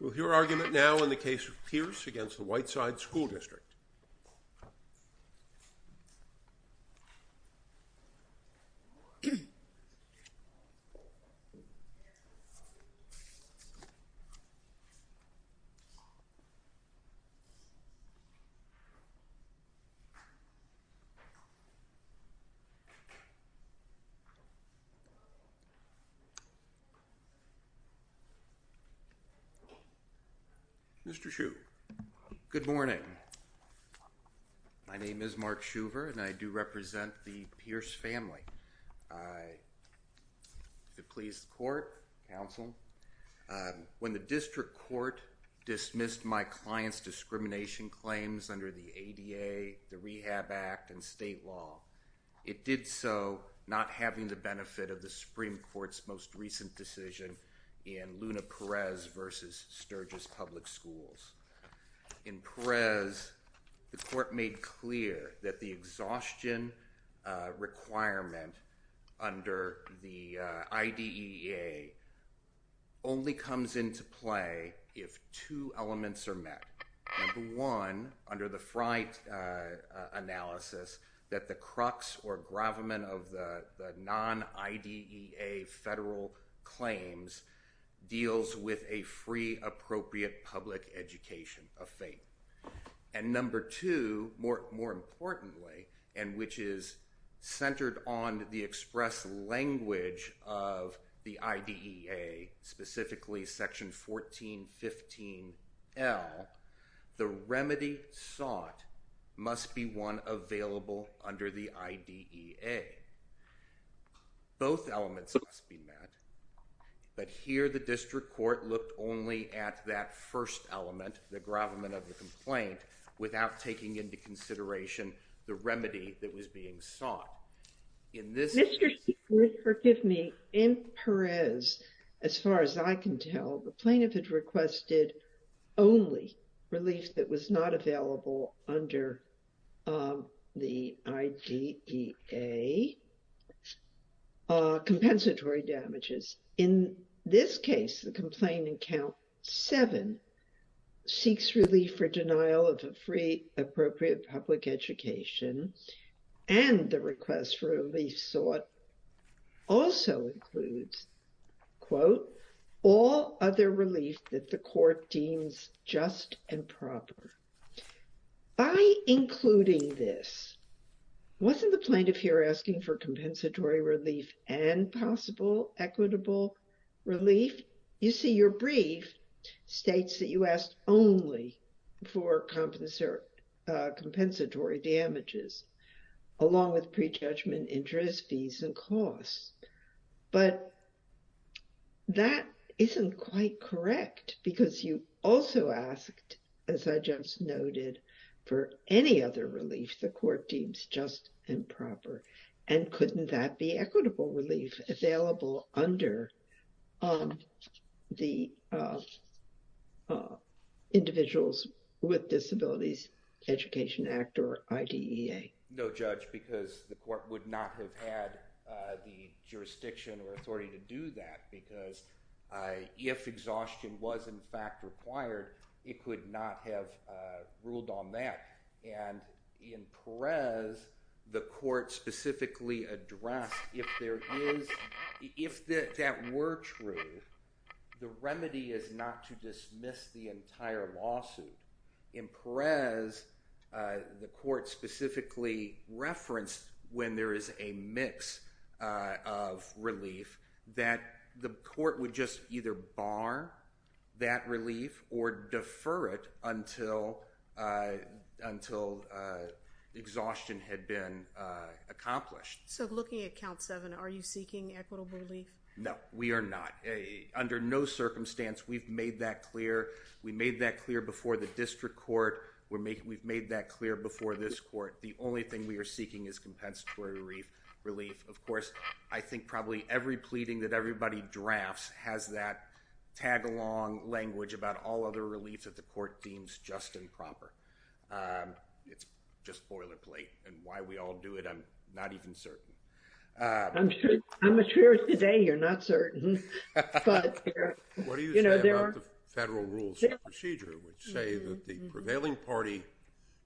With your argument now in the case of Pierce v. Whiteside School District. Mr. Schuh. Good morning. My name is Mark Schuver and I do represent the Pierce family. I, if it pleases the court, counsel, when the district court dismissed my client's discrimination claims under the ADA, the Rehab Act, and state law, it did so not having the benefit of the decision in Luna Perez v. Sturgis Public Schools. In Perez, the court made clear that the exhaustion requirement under the IDEA only comes into play if two elements are met. Number one, under the Freight analysis, that the crux or gravamen of the non-IDEA federal claims deals with a free, appropriate public education of faith. And number two, more importantly, and which is centered on the express language of the IDEA, specifically Section 1415L, the remedy sought must be one available under the IDEA. Both elements must be met, but here the district court looked only at that first element, the gravamen of the complaint, without taking into consideration the remedy that was being sought. Mr. Schuver, forgive me, in Perez, as far as I can tell, the plaintiff had requested only relief that was not available under the IDEA, compensatory damages. In this case, the complaint in Count 7 seeks relief for denial of a free, appropriate public education, and the request for relief sought also includes, quote, all other relief that the court deems just and proper. By including this, wasn't the plaintiff here asking for compensatory relief and possible equitable relief? You see, your brief states that you asked only for compensatory damages, along with prejudgment, interest fees, and costs. But that isn't quite correct, because you also asked, as I just noted, for any other relief the court deems just and proper. And the Individuals with Disabilities Education Act, or IDEA. No, Judge, because the court would not have had the jurisdiction or authority to do that, because if exhaustion was in fact required, it could not have ruled on that. And in Perez, the court specifically addressed if that were true, the remedy is not to dismiss the entire lawsuit. In Perez, the court specifically referenced, when there is a mix of relief, that the court would just either bar that No, we are not. Under no circumstance, we've made that clear. We made that clear before the district court. We've made that clear before this court. The only thing we are seeking is compensatory relief. Of course, I think probably every pleading that everybody drafts has that tag-along language about all other relief that the court deems just and proper. It's just boilerplate, and why we all do it, I'm not even certain. I'm sure today you're not certain. What do you say about the Federal Rules of Procedure, which say that the prevailing party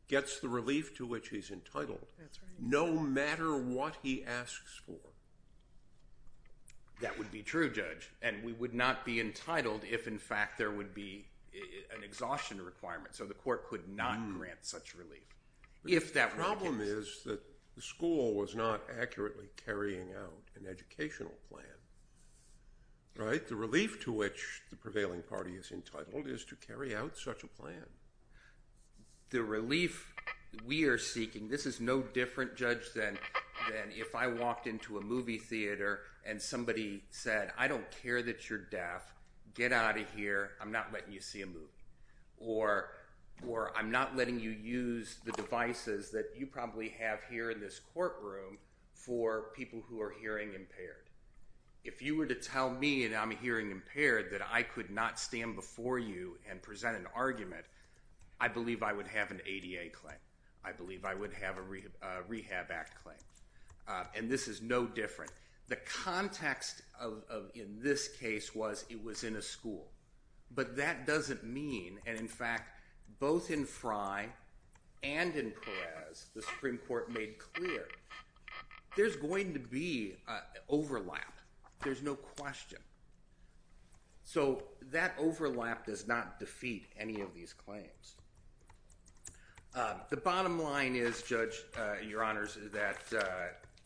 gets the relief to which he's entitled, no matter what he asks for? That would be true, Judge, and we would not be entitled if in fact there would be an exhaustion requirement. So the court could not grant such relief. The problem is that the school was not accurately carrying out an educational plan. The relief to which the prevailing party is entitled is to carry out such a plan. The relief we are seeking, this is no different, Judge, than if I walked into a movie theater and somebody said, I don't care that you're deaf. Get out of here. I'm not letting you see a movie. Or I'm not letting you use the devices that you probably have here in this courtroom for people who are hearing impaired. If you were to tell me and I'm hearing impaired that I could not stand before you and present an argument, I believe I would have an ADA claim. I believe I would have a Rehab Act claim. And this is no different. The context in this case was it was in a school. But that doesn't mean, and in fact, both in Frey and in Perez, the Supreme Court made clear, there's going to be overlap. There's no question. So that overlap does not defeat any of these claims. The bottom line is, Judge, Your Honors, that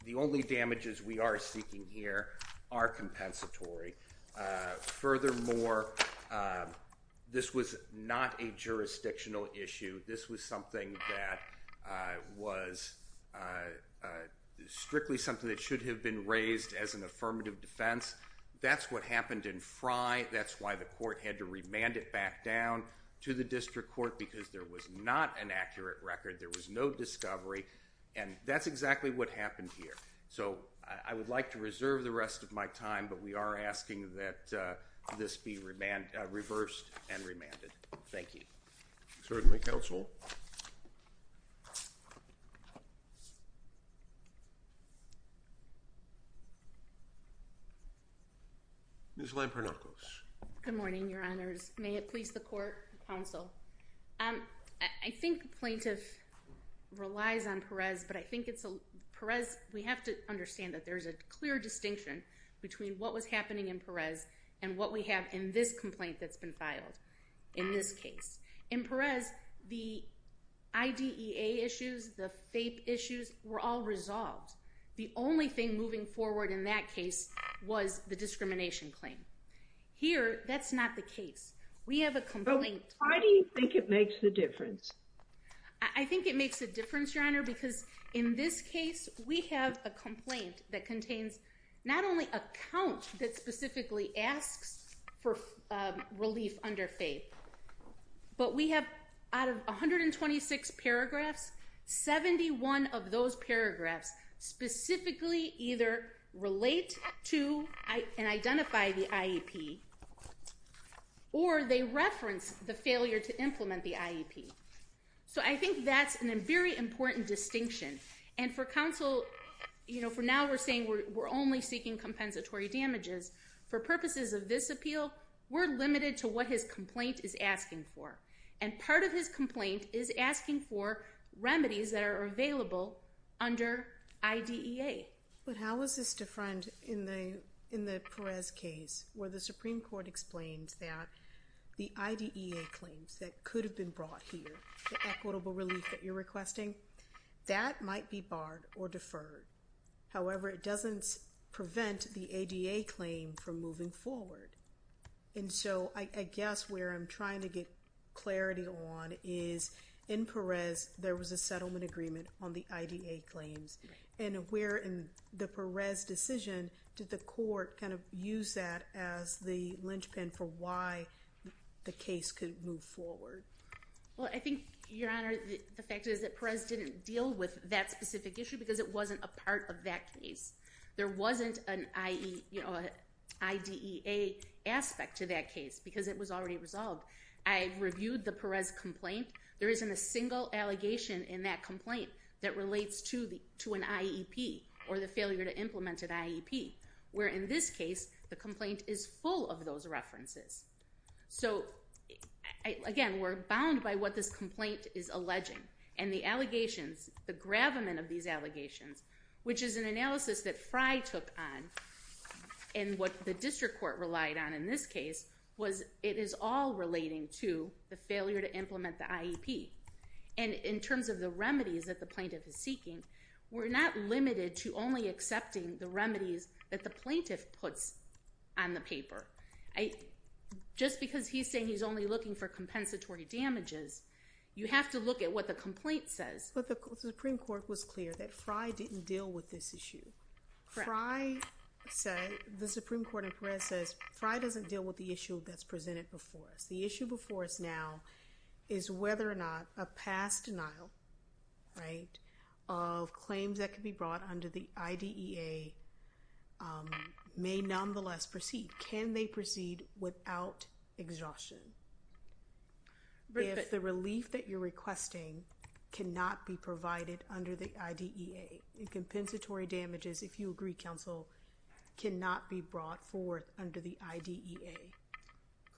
the only damages we are seeking here are compensatory. Furthermore, this was not a jurisdictional issue. This was something that was strictly something that should have been raised as an affirmative defense. That's what happened in Frey. That's why the court had to remand it back down to the district court because there was not an accurate record. There was no discovery. And that's exactly what happened here. So I would like to reserve the rest of my time, but we are asking that this be reversed and remanded. Thank you. Certainly, Counsel. Ms. Lampernakos. Good morning, Your Honors. May it please the Court, Counsel. I think the plaintiff relies on Perez, but I think it's a, Perez, we have to understand that there's a clear distinction between what was happening in Perez and what we have in this complaint that's been filed in this case. In Perez, the IDEA issues, the FAPE issues were all resolved. The only thing moving forward in that case was the discrimination claim. Here, that's not the case. We have a complaint. But why do you think it makes the difference? I think it makes a difference, Your Honor, because in this case, we have a complaint that contains not only a count that specifically asks for relief under FAPE, but we have, out of 126 paragraphs, 71 of those paragraphs specifically either relate to and identify the IEP, or they reference the failure to implement the IEP. So I think that's a very important distinction. And for counsel, you know, for now we're saying we're only seeking compensatory damages. For purposes of this appeal, we're limited to what his complaint is asking for. And part of his complaint is asking for remedies that are available under IDEA. But how is this different in the Perez case where the Supreme Court explains that the might be barred or deferred. However, it doesn't prevent the ADA claim from moving forward. And so I guess where I'm trying to get clarity on is in Perez, there was a settlement agreement on the IDA claims. And where in the Perez decision did the court kind of use that as the linchpin for why the case could move forward? Well, I think, Your Honor, the fact is that Perez didn't deal with that specific issue because it wasn't a part of that case. There wasn't an IDEA aspect to that case because it was already resolved. I reviewed the Perez complaint. There isn't a single allegation in that complaint that relates to an IEP or the failure to implement an IEP. Where in this case, the complaint is full of those references. So again, we're bound by what this complaint is alleging. And the allegations, the gravamen of these allegations, which is an analysis that Fry took on and what the district court relied on in this case was it is all relating to the failure to implement the IEP. And in terms of the remedies that the plaintiff puts on the paper, just because he's saying he's only looking for compensatory damages, you have to look at what the complaint says. But the Supreme Court was clear that Fry didn't deal with this issue. Fry said, the Supreme Court in Perez says, Fry doesn't deal with the issue that's presented before us. The issue before us now is whether or not a past denial, right, of claims that could be brought under the IDEA may nonetheless proceed. Can they proceed without exhaustion? If the relief that you're requesting cannot be provided under the IDEA, the compensatory damages, if you agree, counsel, cannot be brought forth under the IDEA.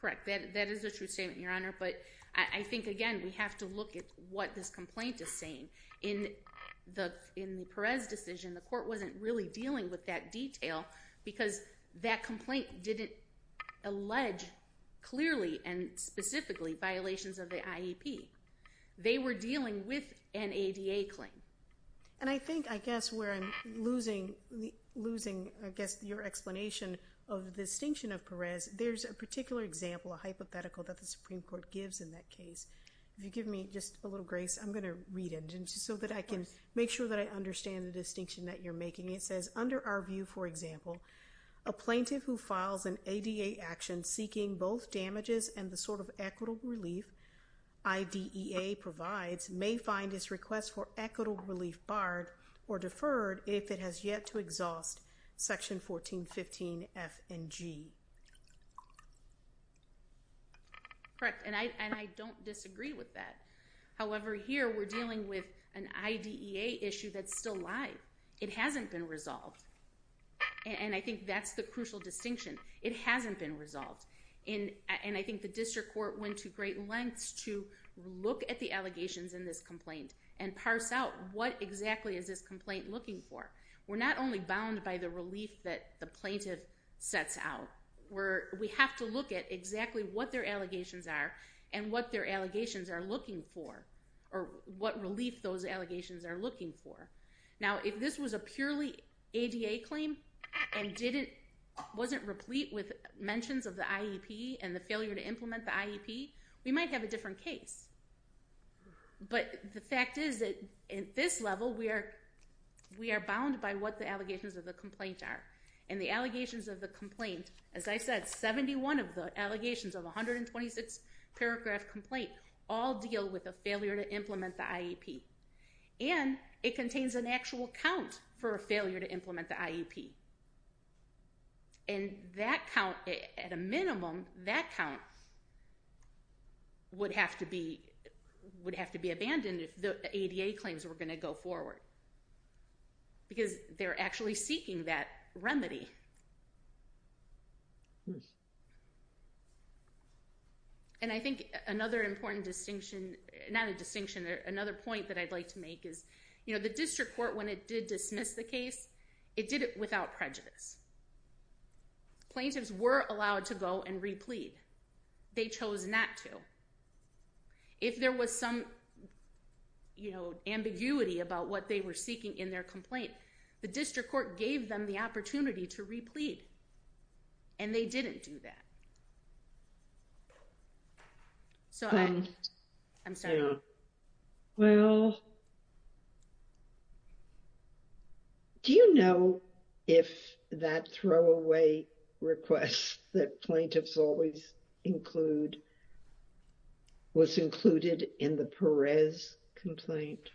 Correct. That is a true statement, Your Honor. But I think, again, we have to look at what this complaint is saying. In the Perez decision, the court wasn't really dealing with that detail because that complaint didn't allege clearly and specifically violations of the IEP. They were dealing with an ADA claim. And I think, I guess, where I'm losing, I guess, your explanation of the distinction of Perez, there's a particular example, a I'm going to read it so that I can make sure that I understand the distinction that you're making. It says, under our view, for example, a plaintiff who files an ADA action seeking both damages and the sort of equitable relief IDEA provides may find his request for equitable relief barred or deferred if it has yet to exhaust section 1415F and G. Correct. And I don't disagree with that. However, here we're dealing with an IDEA issue that's still live. It hasn't been resolved. And I think that's the crucial distinction. It hasn't been resolved. And I think the district court went to great lengths to look at the allegations in this complaint and parse out what exactly is this complaint looking for. We're not only bound by the relief that the plaintiff sets out. We have to look at exactly what their allegations are and what their allegations are looking for or what relief those allegations are looking for. Now, if this was a purely ADA claim and wasn't replete with mentions of the IEP and the failure to implement the IEP, we might have a different case. But the allegations of the complaint are. And the allegations of the complaint, as I said, 71 of the allegations of 126-paragraph complaint all deal with a failure to implement the IEP. And it contains an actual count for a failure to implement the IEP. And that count, at a minimum, that count would have to be abandoned if the ADA claims were going to go forward. Because they're actually seeking that remedy. And I think another important distinction, not a distinction, another point that I'd like to make is, you know, the district court, when it did dismiss the case, it did it without prejudice. Plaintiffs were allowed to go and replete. They chose not to. If there was some, you know, ambiguity about what they were seeking in their complaint, the district court gave them the opportunity to replete. And they didn't do that. So, I'm sorry. Well. Do you know if that throwaway request that plaintiffs always include was included in the Perez complaint?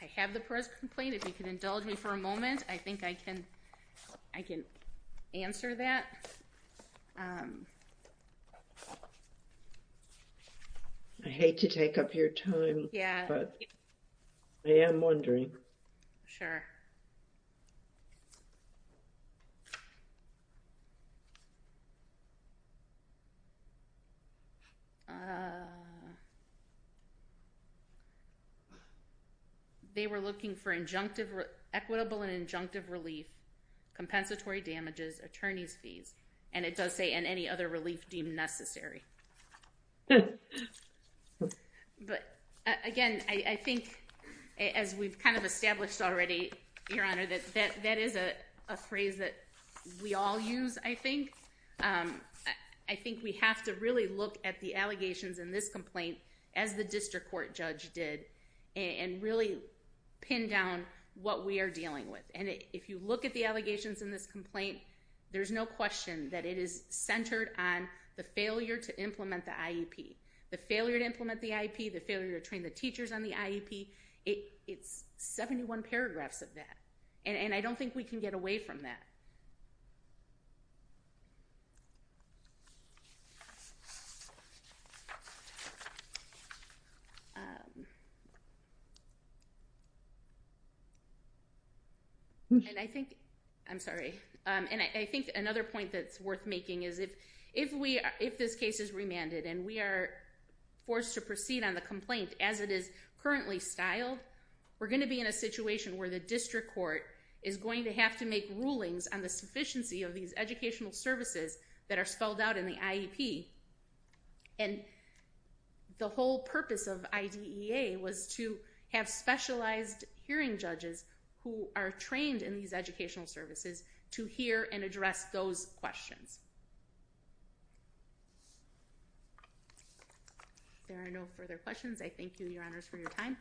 I have the Perez complaint. If you can indulge me for a moment, I think I can answer that. I hate to take up your time, but I am wondering. Sure. They were looking for injunctive, equitable and injunctive relief, compensatory damages, attorney's fees, and it does say and any other relief deemed necessary. Good. But, again, I think as we've kind of established already, Your Honor, that that is a phrase that we all use, I think. I think we have to really look at the allegations in this complaint as the district court judge did and really pin down what we are dealing with. And if you look at the allegations in this complaint, there's no question that it is to implement the IEP. The failure to implement the IEP, the failure to train the teachers on the IEP, it's 71 paragraphs of that. And I don't think we can get away from that. And I think, I'm sorry, and I think another point that's worth making is if we, if this case is remanded and we are forced to proceed on the complaint as it is currently styled, we're going to be in a situation where the district court is going to have to make rulings on the sufficiency of these educational services that are spelled out in the IEP. And the whole purpose of IDEA was to have specialized hearing judges who are trained in these educational services to hear and address those questions. If there are no further questions, I thank you, Your Honors, for your time.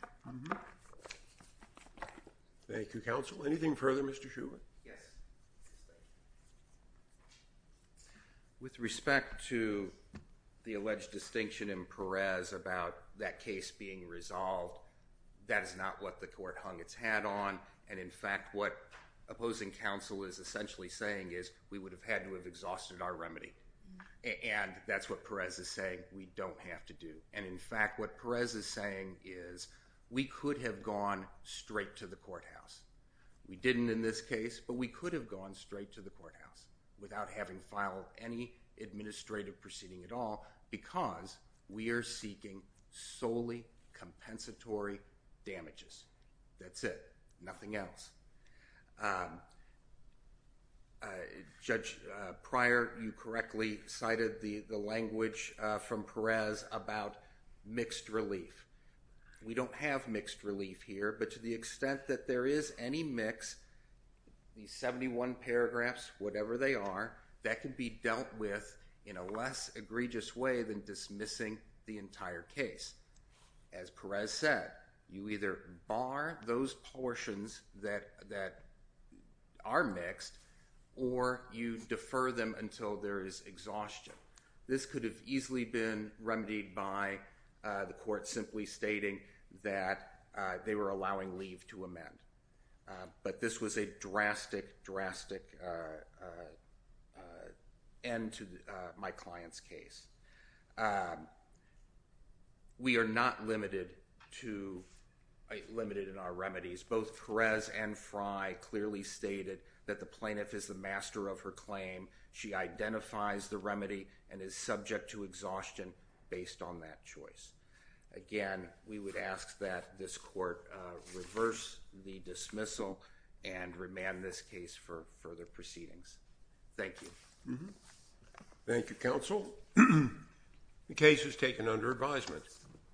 Thank you, Counsel. Anything further, Mr. Shuman? Yes. With respect to the alleged distinction in Perez about that case being resolved, that is not what the court hung its hat on. And in fact, what opposing counsel is essentially saying is we would have had to have exhausted our remedy. And that's what Perez is saying, we don't have to do. And in fact, what Perez is saying is we could have gone straight to the courthouse. We didn't in this case, but we could have gone straight to the courthouse without having filed any administrative proceeding at all because we are seeking solely compensatory damages. That's it. Nothing else. Judge Pryor, you correctly cited the language from Perez about mixed relief. We don't have to assume that there is any mix, these 71 paragraphs, whatever they are, that could be dealt with in a less egregious way than dismissing the entire case. As Perez said, you either bar those portions that are mixed or you defer them until there is exhaustion. This could have easily been remedied by the court simply stating that they were allowing leave to amend. But this was a drastic, drastic end to my client's case. We are not limited in our remedies. Both Perez and Fry clearly stated that the plaintiff is the master of her claim. She identifies the remedy and is subject to exhaustion based on that choice. Again, we would ask that this court reverse the dismissal and remand this case for further proceedings. Thank you. Thank you, counsel. The case is taken under advisement.